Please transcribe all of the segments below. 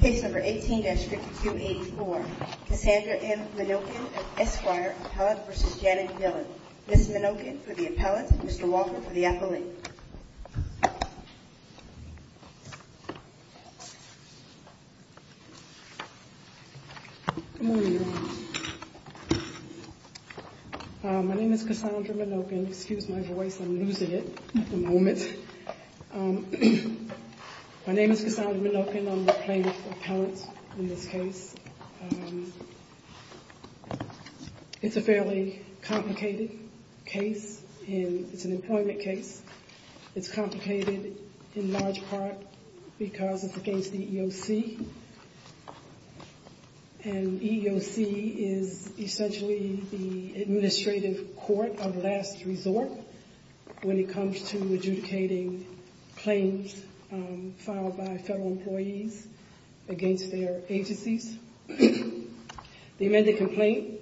Case number 18-584, Cassandra M. Menoken, Esquire, Appellate v. Janet Dhillon. Ms. Menoken for the Appellate, Mr. Walker for the Appellate. Good morning, everyone. My name is Cassandra Menoken. Excuse my voice, I'm losing it at the moment. My name is Cassandra Menoken. I'm the plaintiff's appellant in this case. It's a fairly complicated case, and it's an employment case. It's complicated in large part because it's against the EEOC. And EEOC is essentially the administrative court of last resort when it comes to adjudicating claims filed by federal employees against their agencies. The amended complaint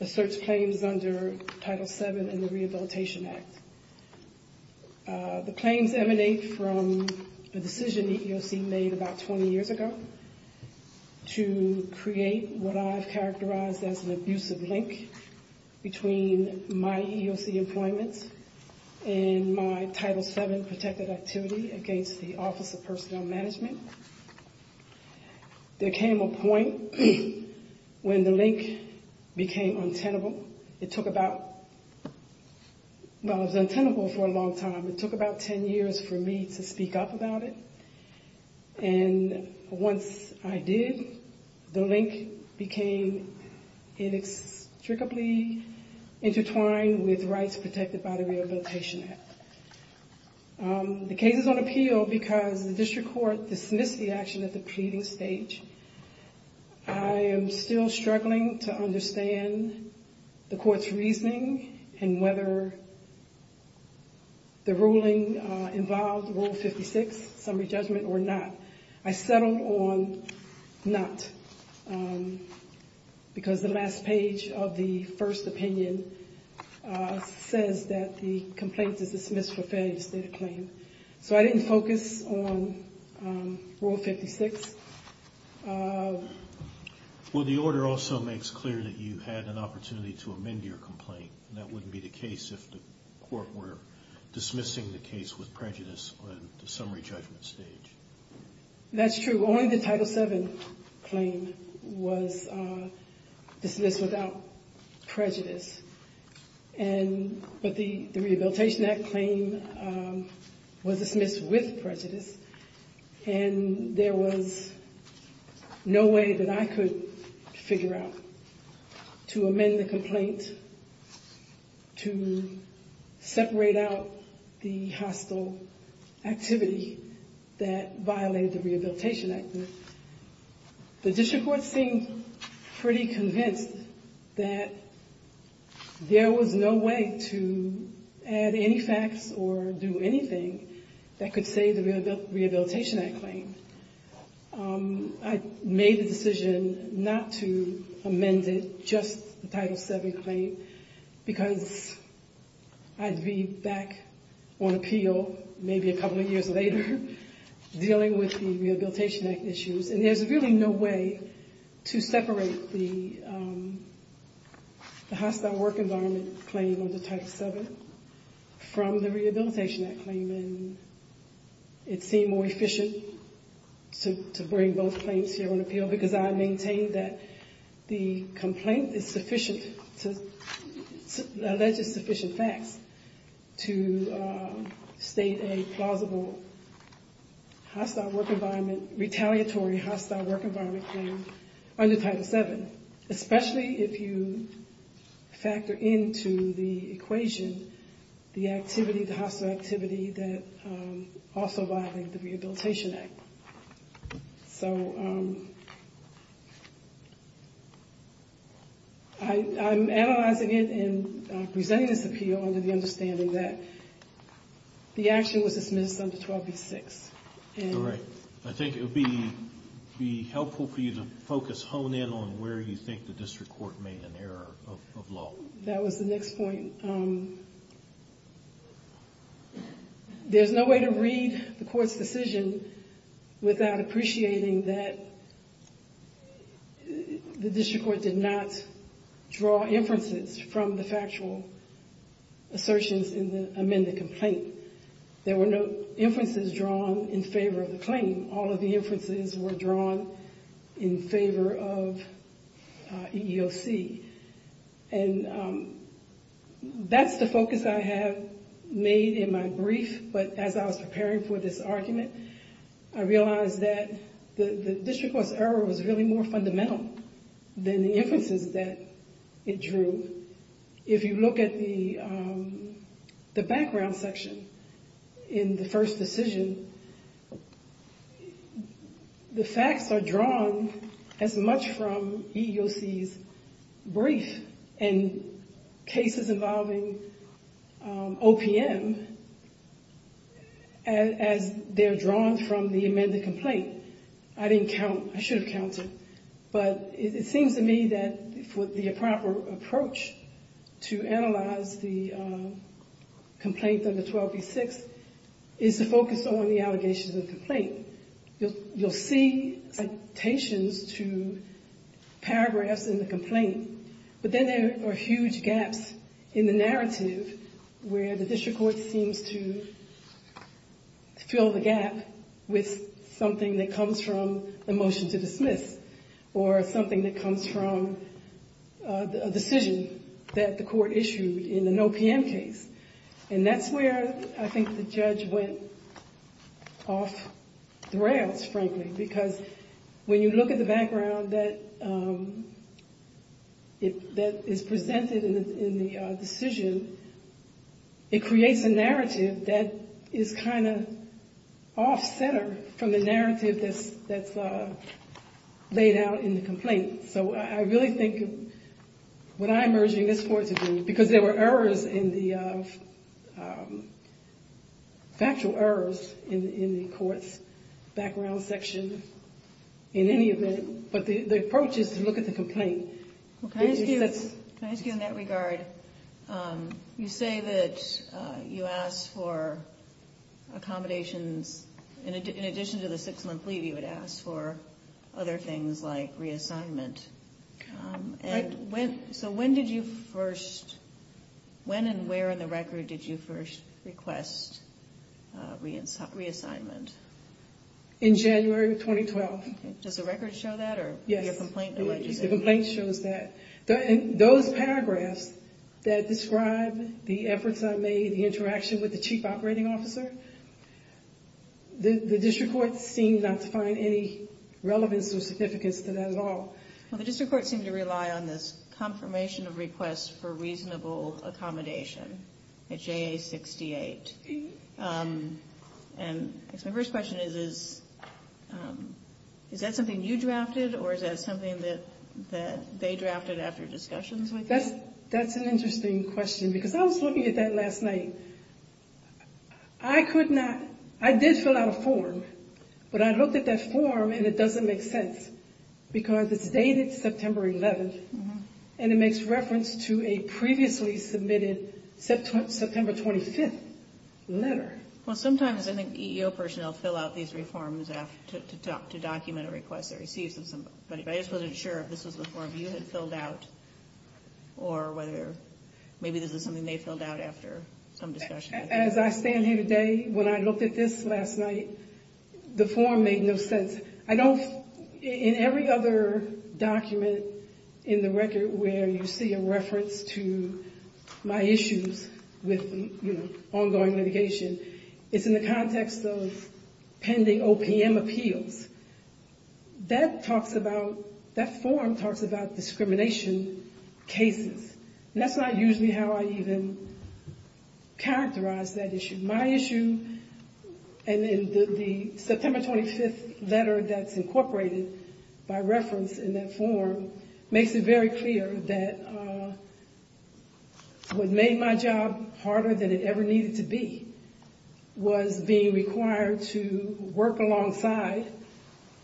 asserts claims under Title VII in the Rehabilitation Act. The claims emanate from a decision the EEOC made about 20 years ago to create what I've characterized as an abusive link between my EEOC employment and my Title VII protected activity against the Office of Personnel Management. There came a point when the link became untenable. It took about, well, it was untenable for a long time. It took about 10 years for me to speak up about it. And once I did, the link became inextricably intertwined with rights protected by the Rehabilitation Act. The case is on appeal because the district court dismissed the action at the pleading stage. I am still struggling to understand the court's reasoning and whether the ruling involved Rule 56, summary judgment, or not. I settled on not because the last page of the first opinion says that the complaint is dismissed for failure to state a claim. So I didn't focus on Rule 56. Well, the order also makes clear that you had an opportunity to amend your complaint. That wouldn't be the case if the court were dismissing the case with prejudice on the summary judgment stage. That's true. Only the Title VII claim was dismissed without prejudice. But the Rehabilitation Act claim was dismissed with prejudice. And there was no way that I could figure out to amend the complaint to separate out the hostile activity that violated the Rehabilitation Act. The district court seemed pretty convinced that there was no way to add any facts or do anything that could save the Rehabilitation Act claim. I made the decision not to amend it, just the Title VII claim, because I'd be back on appeal maybe a couple of years later dealing with the Rehabilitation Act issues. And there's really no way to separate the hostile work environment claim under Title VII from the Rehabilitation Act claim. And it seemed more efficient to bring both claims here on appeal, because I maintained that the complaint is sufficient, alleges sufficient facts to state a plausible hostile work environment, retaliatory hostile work environment claim under Title VII. But especially if you factor into the equation the activity, the hostile activity that also violated the Rehabilitation Act. So I'm analyzing it and presenting this appeal under the understanding that the action was dismissed under 12B6. All right. I think it would be helpful for you to focus, hone in on where you think the district court made an error of law. That was the next point. There's no way to read the court's decision without appreciating that the district court did not draw inferences from the factual assertions in the amended complaint. There were no inferences drawn in favor of the claim. All of the inferences were drawn in favor of EEOC. And that's the focus I have made in my brief, but as I was preparing for this argument, I realized that the district court's error was really more fundamental than the inferences that it drew. If you look at the background section in the first decision, the facts are drawn as much from EEOC's brief and cases involving OPM as they're drawn from the amended complaint. I didn't count. I should have counted. But it seems to me that the proper approach to analyze the complaint under 12B6 is to focus on the allegations of the complaint. You'll see citations to paragraphs in the complaint, but then there are huge gaps in the narrative where the district court seems to fill the gap with something that comes from a motion to dismiss or something that comes from a decision that the court issued in an OPM case. And that's where I think the judge went off the rails, frankly, because when you look at the background that is presented in the decision, it creates a narrative that is kind of off-center from the narrative that's laid out in the complaint. So I really think what I'm urging this court to do, because there were errors in the factual errors in the court's background section in any event, but the approach is to look at the complaint. Can I ask you in that regard, you say that you asked for accommodations. In addition to the six-month leave, you had asked for other things like reassignment. So when and where in the record did you first request reassignment? In January of 2012. Does the record show that? Yes. The complaint shows that. Those paragraphs that describe the efforts I made, the interaction with the chief operating officer, the district court seemed not to find any relevance or significance to that at all. Well, the district court seemed to rely on this confirmation of request for reasonable accommodation at JA 68. My first question is, is that something you drafted, or is that something that they drafted after discussions with you? That's an interesting question, because I was looking at that last night. I did fill out a form, but I looked at that form and it doesn't make sense, because it's dated September 11th, and it makes reference to a previously submitted September 25th letter. Well, sometimes I think EEO personnel fill out these reforms to document a request they receive. But I just wasn't sure if this was a form you had filled out, or whether maybe this is something they filled out after some discussion. As I stand here today, when I looked at this last night, the form made no sense. I know in every other document in the record where you see a reference to my issues with, you know, ongoing litigation, it's in the context of pending OPM appeals. That talks about, that form talks about discrimination cases. And that's not usually how I even characterize that issue. My issue, and in the September 25th letter that's incorporated by reference in that form, makes it very clear that what made my job harder than it ever needed to be was being required to work alongside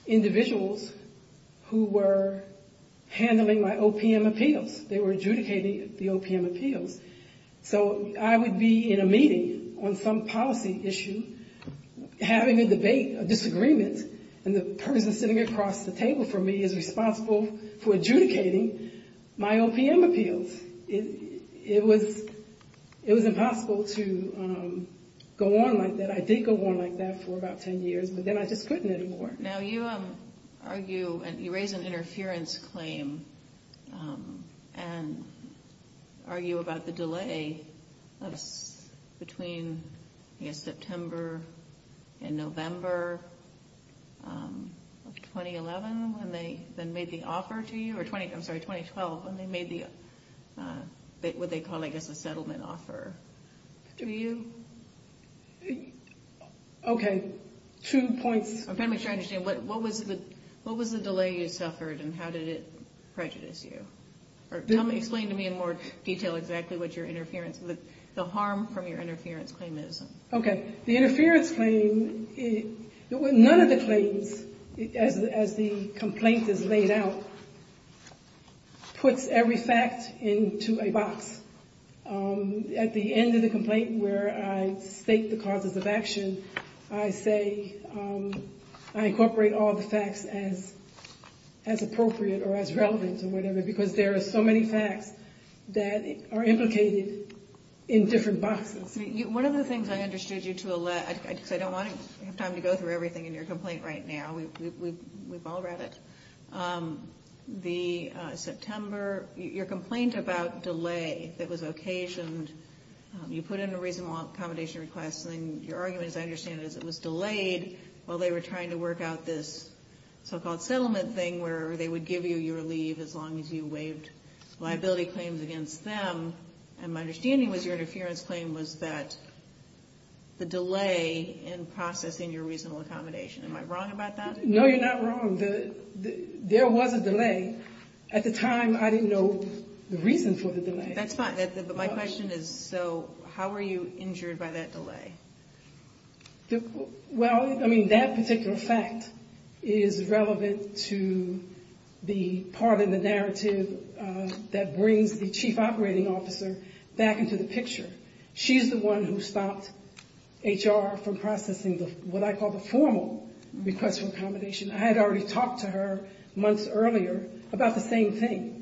individuals who were handling my OPM appeals. They were adjudicating the OPM appeals. So I would be in a meeting on some policy issue, having a debate, a disagreement, and the person sitting across the table from me is responsible for adjudicating my OPM appeals. It was impossible to go on like that. I did go on like that for about 10 years, but then I just couldn't anymore. Now, you argue and you raise an interference claim and argue about the delay between, I guess, September and November of 2011 when they then made the offer to you, or 20, I'm sorry, 2012, when they made the, what they call, I guess, a settlement offer. Do you? Okay. Two points. I'm trying to understand. What was the delay you suffered and how did it prejudice you? Or explain to me in more detail exactly what your interference, the harm from your interference claim is. Okay. The interference claim, none of the claims, as the complaint is laid out, puts every fact into a box. At the end of the complaint where I state the causes of action, I say I incorporate all the facts as appropriate or as relevant or whatever, because there are so many facts that are implicated in different boxes. One of the things I understood you to allege, because I don't want to have time to go through everything in your complaint right now. We've all read it. The September, your complaint about delay that was occasioned, you put in a reasonable accommodation request, and your argument, as I understand it, is it was delayed while they were trying to work out this so-called settlement thing where they would give you your leave as long as you waived liability claims against them. And my understanding was your interference claim was that the delay in processing your reasonable accommodation. Am I wrong about that? No, you're not wrong. There was a delay. At the time, I didn't know the reason for the delay. That's fine. But my question is, so how were you injured by that delay? Well, I mean, that particular fact is relevant to the part of the narrative that brings the chief operating officer back into the picture. She's the one who stopped HR from processing what I call the formal request for accommodation. I had already talked to her months earlier about the same thing.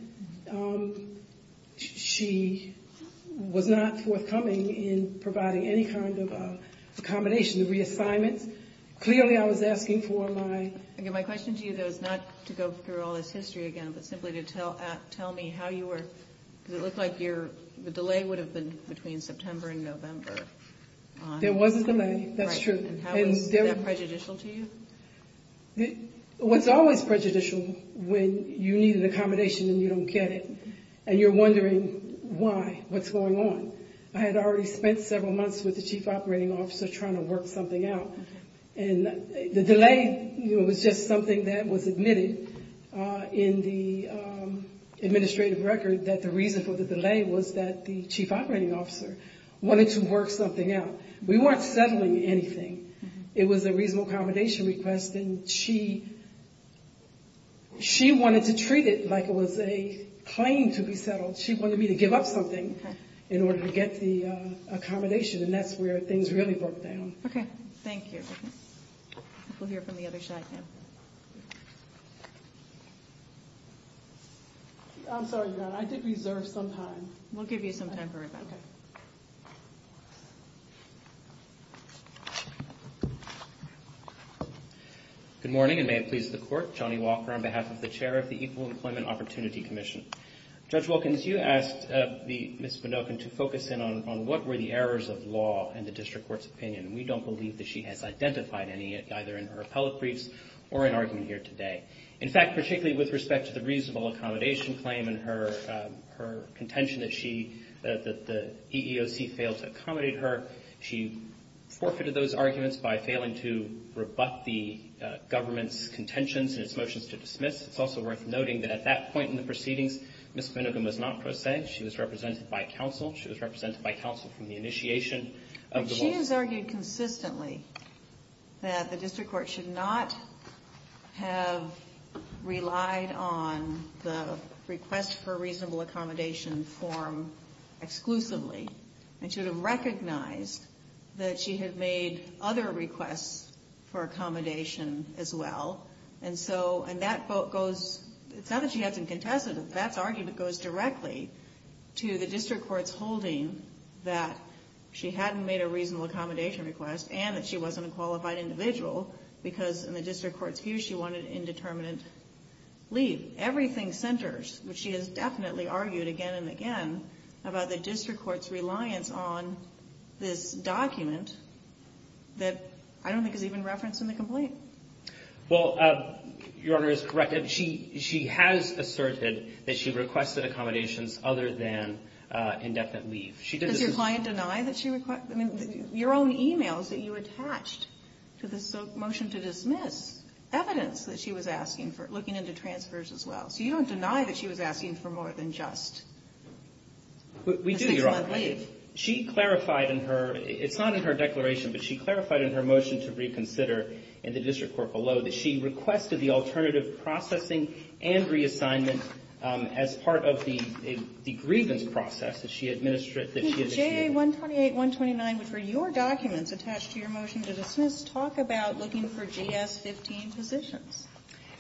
She was not forthcoming in providing any kind of accommodation, reassignments. Clearly, I was asking for my- My question to you, though, is not to go through all this history again, but simply to tell me how you were- because it looked like the delay would have been between September and November. There was a delay. That's true. And how is that prejudicial to you? What's always prejudicial when you need an accommodation and you don't get it, and you're wondering why, what's going on? I had already spent several months with the chief operating officer trying to work something out. And the delay was just something that was admitted in the administrative record, that the reason for the delay was that the chief operating officer wanted to work something out. We weren't settling anything. It was a reasonable accommodation request, and she wanted to treat it like it was a claim to be settled. She wanted me to give up something in order to get the accommodation, and that's where things really broke down. Okay. Thank you. We'll hear from the other side now. I'm sorry, I did reserve some time. We'll give you some time for rebuttal. Good morning, and may it please the Court. Johnny Walker on behalf of the chair of the Equal Employment Opportunity Commission. Judge Wilkins, you asked Ms. Minokin to focus in on what were the errors of law in the district court's opinion. We don't believe that she has identified any, either in her appellate briefs or in argument here today. In fact, particularly with respect to the reasonable accommodation claim and her contention that she, that the EEOC failed to accommodate her, she forfeited those arguments by failing to rebut the government's contentions in its motions to dismiss. It's also worth noting that at that point in the proceedings, Ms. Minokin was not pro se. She was represented by counsel. She has argued consistently that the district court should not have relied on the request for reasonable accommodation form exclusively. It should have recognized that she had made other requests for accommodation as well. And so, and that goes, it's not that she hasn't contested it. That's argument goes directly to the district court's holding that she hadn't made a reasonable accommodation request and that she wasn't a qualified individual because in the district court's view she wanted indeterminate leave. Everything centers, which she has definitely argued again and again, about the district court's reliance on this document that I don't think is even referenced in the complaint. Well, Your Honor is correct. She has asserted that she requested accommodations other than indefinite leave. Does your client deny that she, I mean, your own e-mails that you attached to this motion to dismiss evidence that she was asking for, looking into transfers as well. So you don't deny that she was asking for more than just a six-month leave? We do, Your Honor. She clarified in her, it's not in her declaration, but she clarified in her motion to reconsider in the district court below that she would have processing and reassignment as part of the grievance process that she administered, that she had achieved. The JA-128-129, which were your documents attached to your motion to dismiss, talk about looking for GS-15 positions.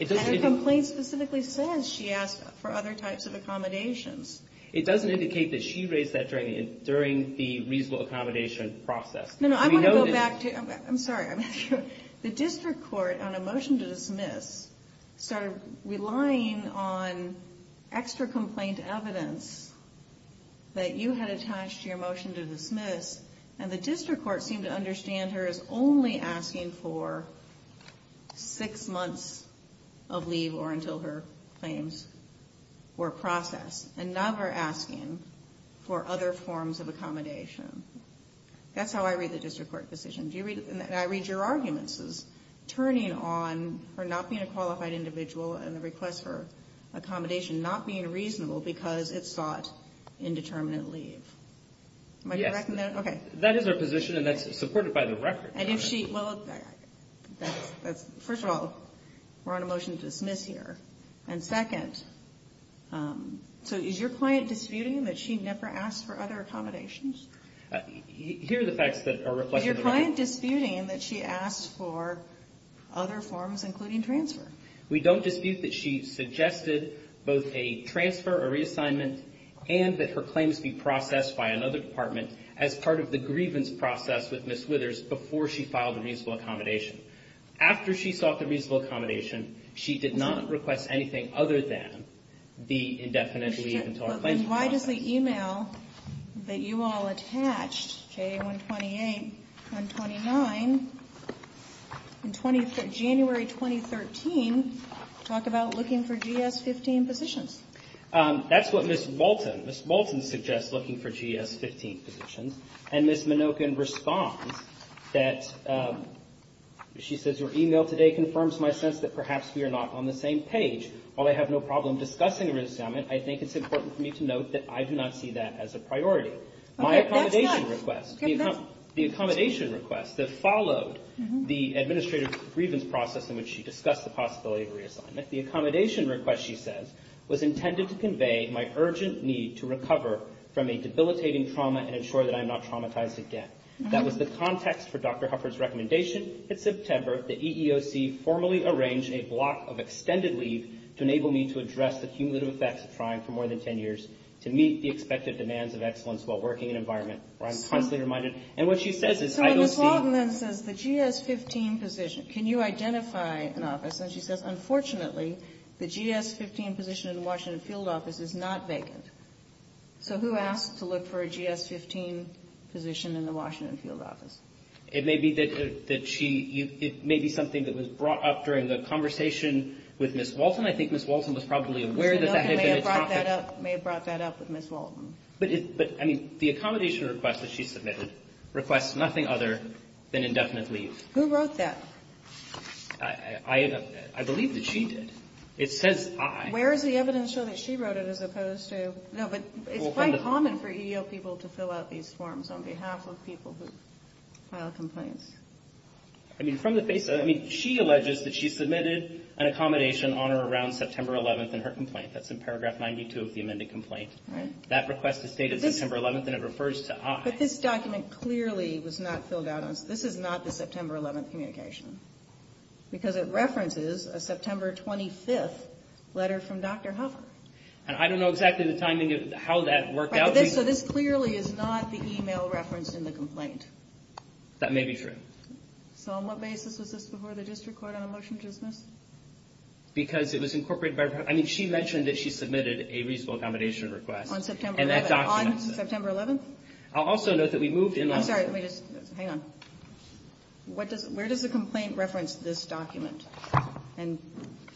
And her complaint specifically says she asked for other types of accommodations. It doesn't indicate that she raised that during the reasonable accommodation process. No, no, I want to go back to, I'm sorry, I'm not sure. The district court on a motion to dismiss started relying on extra complaint evidence that you had attached to your motion to dismiss, and the district court seemed to understand her as only asking for six months of leave or until her claims were processed. And now we're asking for other forms of accommodation. That's how I read the district court decision. Do you read, and I read your arguments as turning on her not being a qualified individual and the request for accommodation not being reasonable because it sought indeterminate leave. Yes. Am I correct in that? Okay. That is her position, and that's supported by the record. And if she, well, that's, first of all, we're on a motion to dismiss here. And second, so is your client disputing that she never asked for other accommodations? Here are the facts that are reflected in the record. Is your client disputing that she asked for other forms, including transfer? We don't dispute that she suggested both a transfer or reassignment and that her claims be processed by another department as part of the grievance process with Ms. Withers before she filed the reasonable accommodation. After she sought the reasonable accommodation, she did not request anything other than the indefinite leave until her claims were processed. But then why does the e-mail that you all attached, JA-128, 129, in January 2013, talk about looking for GS-15 positions? That's what Ms. Walton, Ms. Walton suggests looking for GS-15 positions. And Ms. Minokin responds that, she says, your e-mail today confirms my sense that perhaps we are not on the same page. While I have no problem discussing a reassignment, I think it's important for me to note that I do not see that as a priority. My accommodation request, the accommodation request that followed the administrative grievance process in which she discussed the possibility of a reassignment, the accommodation request, she says, was intended to convey my urgent need to recover from a debilitating trauma and ensure that I'm not traumatized again. That was the context for Dr. Hufford's recommendation. In September, the EEOC formally arranged a block of extended leave to enable me to address the cumulative effects of trying for more than 10 years to meet the expected demands of excellence while working in an environment where I'm constantly reminded. And what she says is, I don't see. So Ms. Walton then says, the GS-15 position, can you identify an office? And she says, unfortunately, the GS-15 position in the Washington field office is not vacant. So who asked to look for a GS-15 position in the Washington field office? It may be that she, it may be something that was brought up during the conversation with Ms. Walton. I think Ms. Walton was probably aware that that had been a topic. May have brought that up with Ms. Walton. But, I mean, the accommodation request that she submitted requests nothing other than indefinite leave. Who wrote that? I believe that she did. It says I. Where is the evidence show that she wrote it as opposed to? No, but it's quite common for EEO people to fill out these forms on behalf of people who file complaints. I mean, from the basis, I mean, she alleges that she submitted an accommodation on or around September 11th in her complaint. That's in paragraph 92 of the amended complaint. Right. That request is dated September 11th, and it refers to I. But this document clearly was not filled out. This is not the September 11th communication. Because it references a September 25th letter from Dr. Huffer. And I don't know exactly the timing of how that worked out. So this clearly is not the email referenced in the complaint. That may be true. So on what basis was this before the district court on a motion to dismiss? Because it was incorporated by her. I mean, she mentioned that she submitted a reasonable accommodation request. On September 11th. And that document. On September 11th. I'll also note that we moved in on. I'm sorry. Let me just. Hang on. Where does the complaint reference this document? And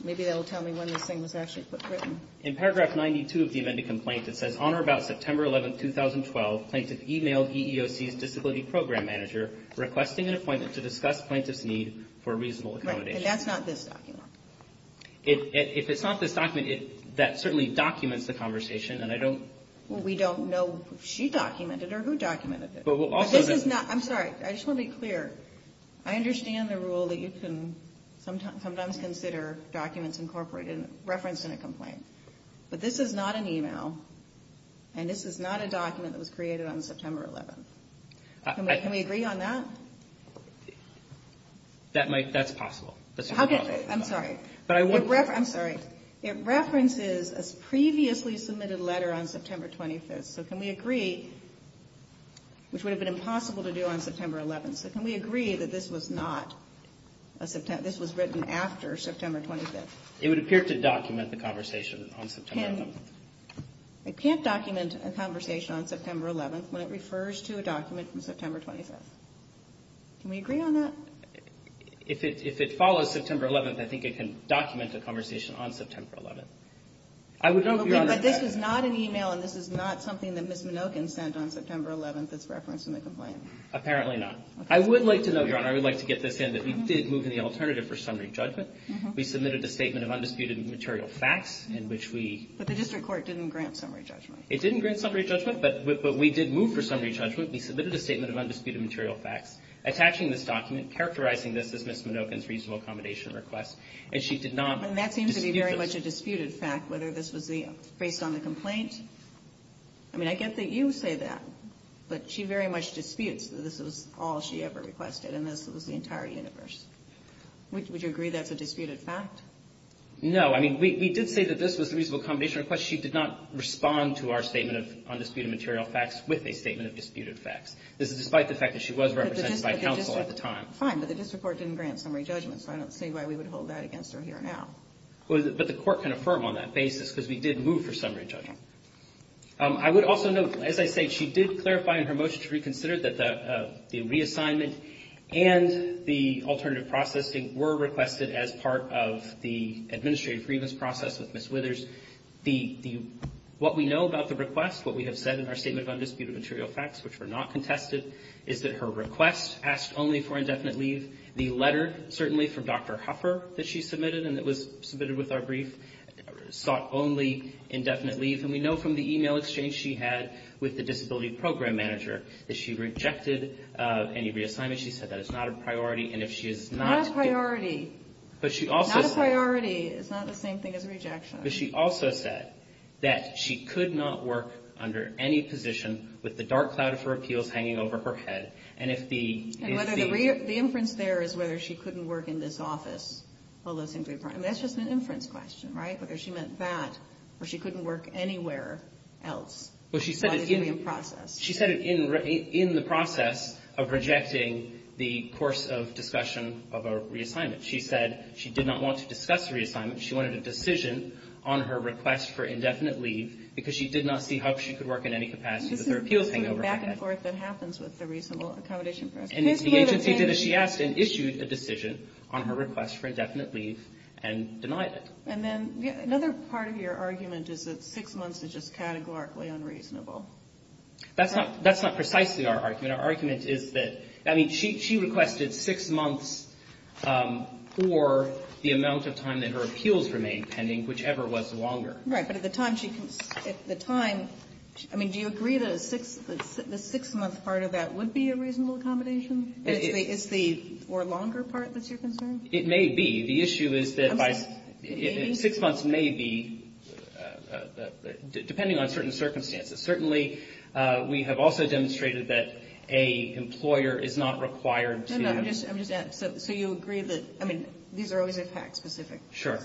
maybe that will tell me when this thing was actually put through. In paragraph 92 of the amended complaint, it says, on or about September 11th, 2012, plaintiff emailed EEOC's disability program manager requesting an appointment to discuss plaintiff's need for a reasonable accommodation. Right. And that's not this document. If it's not this document, that certainly documents the conversation. And I don't. Well, we don't know if she documented it or who documented it. This is not. I'm sorry. I just want to be clear. I understand the rule that you can sometimes consider documents incorporated and referenced in a complaint. But this is not an email. And this is not a document that was created on September 11th. Can we agree on that? That's possible. I'm sorry. I'm sorry. It references a previously submitted letter on September 25th. So can we agree, which would have been impossible to do on September 11th, so can we agree that this was not a September 25th, this was written after September 25th? It would appear to document the conversation on September 11th. It can't document a conversation on September 11th when it refers to a document from September 25th. Can we agree on that? If it follows September 11th, I would hope you understand. But this is not an email, and this is not something that Ms. Minokin sent on September 11th that's referenced in the complaint. Apparently not. I would like to note, Your Honor, I would like to get this in that we did move in the alternative for summary judgment. We submitted a statement of undisputed material facts in which we ---- But the district court didn't grant summary judgment. It didn't grant summary judgment, but we did move for summary judgment. We submitted a statement of undisputed material facts attaching this document, characterizing this as Ms. Minokin's reasonable accommodation request, and she did not dispute this. Would you agree that this is a disputed fact, whether this was based on the complaint? I mean, I get that you say that, but she very much disputes that this was all she ever requested and this was the entire universe. Would you agree that's a disputed fact? No. I mean, we did say that this was a reasonable accommodation request. She did not respond to our statement of undisputed material facts with a statement of disputed facts. This is despite the fact that she was represented by counsel at the time. Fine, but the district court didn't grant summary judgment, so I don't see why we would hold that against her here now. But the court can affirm on that basis because we did move for summary judgment. I would also note, as I say, she did clarify in her motion to reconsider that the reassignment and the alternative processing were requested as part of the administrative grievance process with Ms. Withers. The ---- what we know about the request, what we have said in our statement of undisputed material facts, which were not contested, is that her request asked only for indefinite leave. The letter, certainly, from Dr. Huffer that she submitted and that was submitted with our brief sought only indefinite leave. And we know from the e-mail exchange she had with the disability program manager that she rejected any reassignment. She said that is not a priority. And if she is not ---- Not a priority. But she also ---- Not a priority is not the same thing as a rejection. But she also said that she could not work under any position with the dark cloud of her appeals hanging over her head. And if the ---- And whether the inference there is whether she couldn't work in this office, well, that seems to be a problem. That's just an inference question, right, whether she meant that or she couldn't work anywhere else. Well, she said it in ---- It's not the same process. She said it in the process of rejecting the course of discussion of a reassignment. She said she did not want to discuss the reassignment. She wanted a decision on her request for indefinite leave And it's the agency that she asked and issued a decision on her request for indefinite leave and denied it. And then another part of your argument is that six months is just categorically unreasonable. That's not precisely our argument. Our argument is that, I mean, she requested six months for the amount of time that her appeals remained pending, whichever was longer. Right. But at the time she ---- At the time, I mean, do you agree that a six-month part of that would be a reasonable accommodation? It's the ---- Or longer part that's your concern? It may be. The issue is that by ---- It may be. Six months may be, depending on certain circumstances. Certainly, we have also demonstrated that a employer is not required to ---- No, no, I'm just ---- So you agree that, I mean, these are always a fact-specific ---- Sure.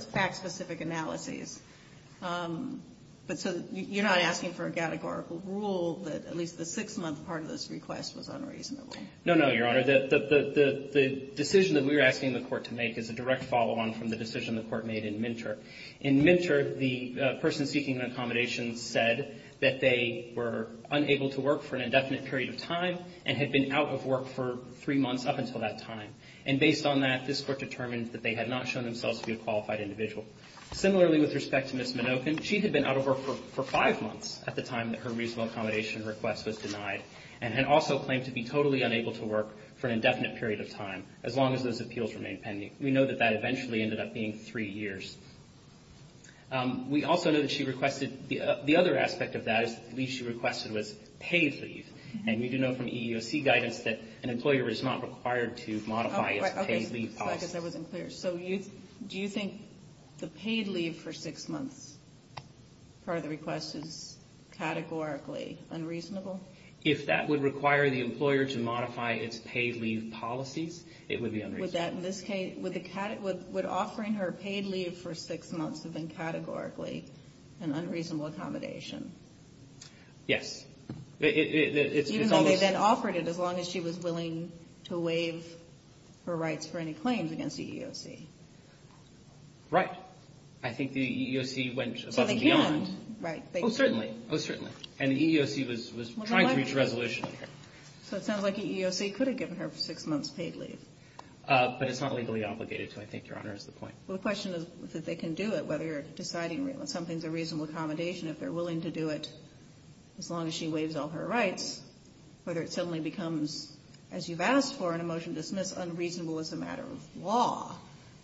But so you're not asking for a categorical rule that at least the six-month part of this request was unreasonable? No, no, Your Honor. The decision that we were asking the Court to make is a direct follow-on from the decision the Court made in Minter. In Minter, the person seeking an accommodation said that they were unable to work for an indefinite period of time and had been out of work for three months up until that time. And based on that, this Court determined that they had not shown themselves to be a qualified individual. Similarly, with respect to Ms. Minokin, she had been out of work for five months at the time that her reasonable accommodation request was denied and had also claimed to be totally unable to work for an indefinite period of time, as long as those appeals remained pending. We know that that eventually ended up being three years. We also know that she requested ---- The other aspect of that is the leave she requested was paid leave. And we do know from EEOC guidance that an employer is not required to modify its paid leave policy. I guess I wasn't clear. So do you think the paid leave for six months part of the request is categorically unreasonable? If that would require the employer to modify its paid leave policies, it would be unreasonable. Would that in this case ---- would offering her paid leave for six months have been categorically an unreasonable accommodation? Yes. It's almost ---- Right. I think the EEOC went above and beyond. So they can't, right? Oh, certainly. Oh, certainly. And the EEOC was trying to reach a resolution here. So it sounds like the EEOC could have given her six months paid leave. But it's not legally obligated to, I think, Your Honor, is the point. Well, the question is that they can do it, whether deciding something's a reasonable accommodation, if they're willing to do it as long as she waives all her rights, whether it suddenly becomes, as you've asked for in a motion to dismiss, unreasonable as a matter of law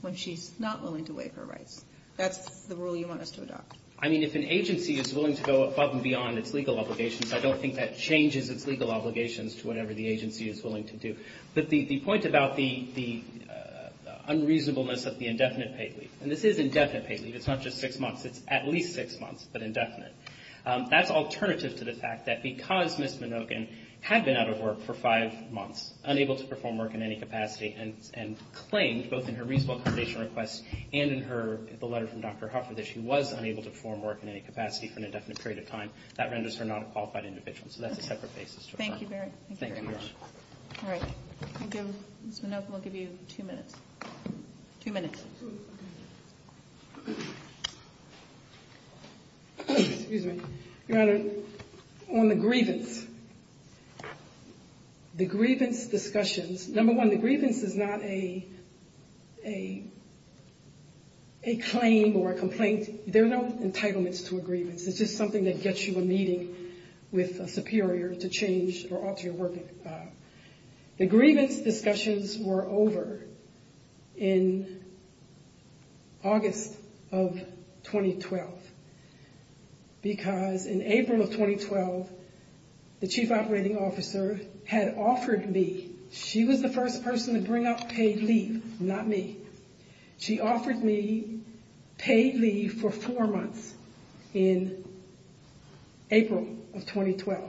when she's not willing to waive her rights. That's the rule you want us to adopt. I mean, if an agency is willing to go above and beyond its legal obligations, I don't think that changes its legal obligations to whatever the agency is willing to do. But the point about the unreasonableness of the indefinite paid leave, and this is indefinite paid leave. It's not just six months. It's at least six months, but indefinite. That's alternative to the fact that because Ms. Minogin had been out of work for five months and claimed both in her reasonable accommodation request and in her letter from Dr. Huffer that she was unable to perform work in any capacity for an indefinite period of time, that renders her not a qualified individual. So that's a separate basis. Thank you, Barry. Thank you very much. All right. Ms. Minogin, I'll give you two minutes. Two minutes. Excuse me. Your Honor, on the grievance, the grievance discussions, number one, the grievance is not a claim or a complaint. There are no entitlements to a grievance. It's just something that gets you a meeting with a superior to change or alter your work. The grievance discussions were over in August of 2012 because in April of 2012, the Chief brought out paid leave, not me. She offered me paid leave for four months in April of 2012.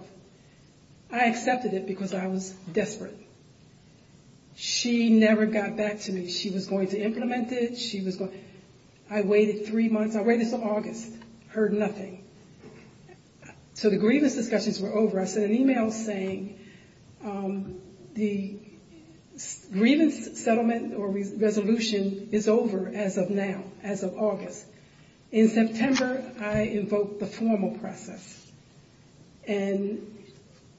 I accepted it because I was desperate. She never got back to me. She was going to implement it. I waited three months. I waited until August. Heard nothing. So the grievance discussions were over. I sent an email saying the grievance settlement or resolution is over as of now, as of August. In September, I invoked the formal process. And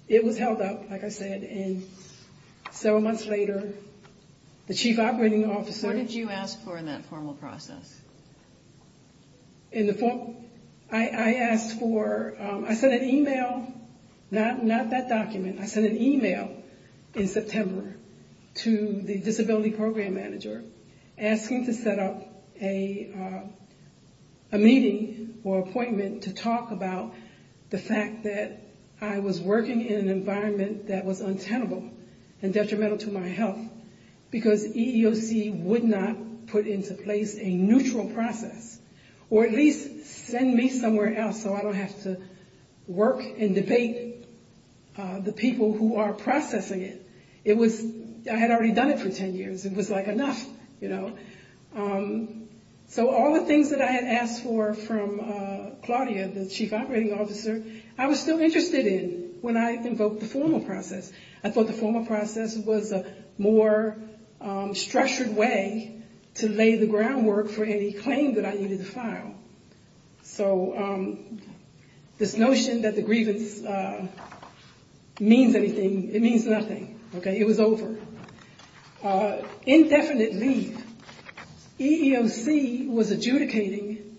it was held up, like I said, and several months later, the Chief Operating Officer What did you ask for in that formal process? I asked for, I sent an email, not that document. I sent an email in September to the Disability Program Manager asking to set up a meeting or appointment to talk about the fact that I was working in an environment that was untenable and detrimental to my health because EEOC would not put into place a neutral process or at least send me somewhere else so I don't have to work and debate the people who are processing it. It was, I had already done it for 10 years. It was like enough, you know. So all the things that I had asked for from Claudia, the Chief Operating Officer, I was still interested in when I invoked the formal process. I thought the formal process was a more structured way to lay the groundwork for any claim that I needed to file. So this notion that the grievance means anything, it means nothing. It was over. Indefinite leave. EEOC was adjudicating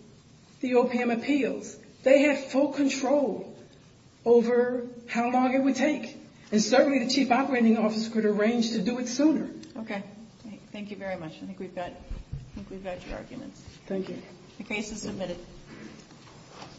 the OPM appeals. They had full control over how long it would take. And certainly the Chief Operating Officer could arrange to do it sooner. Okay. Thank you very much. I think we've got your arguments. Thank you. The case is submitted.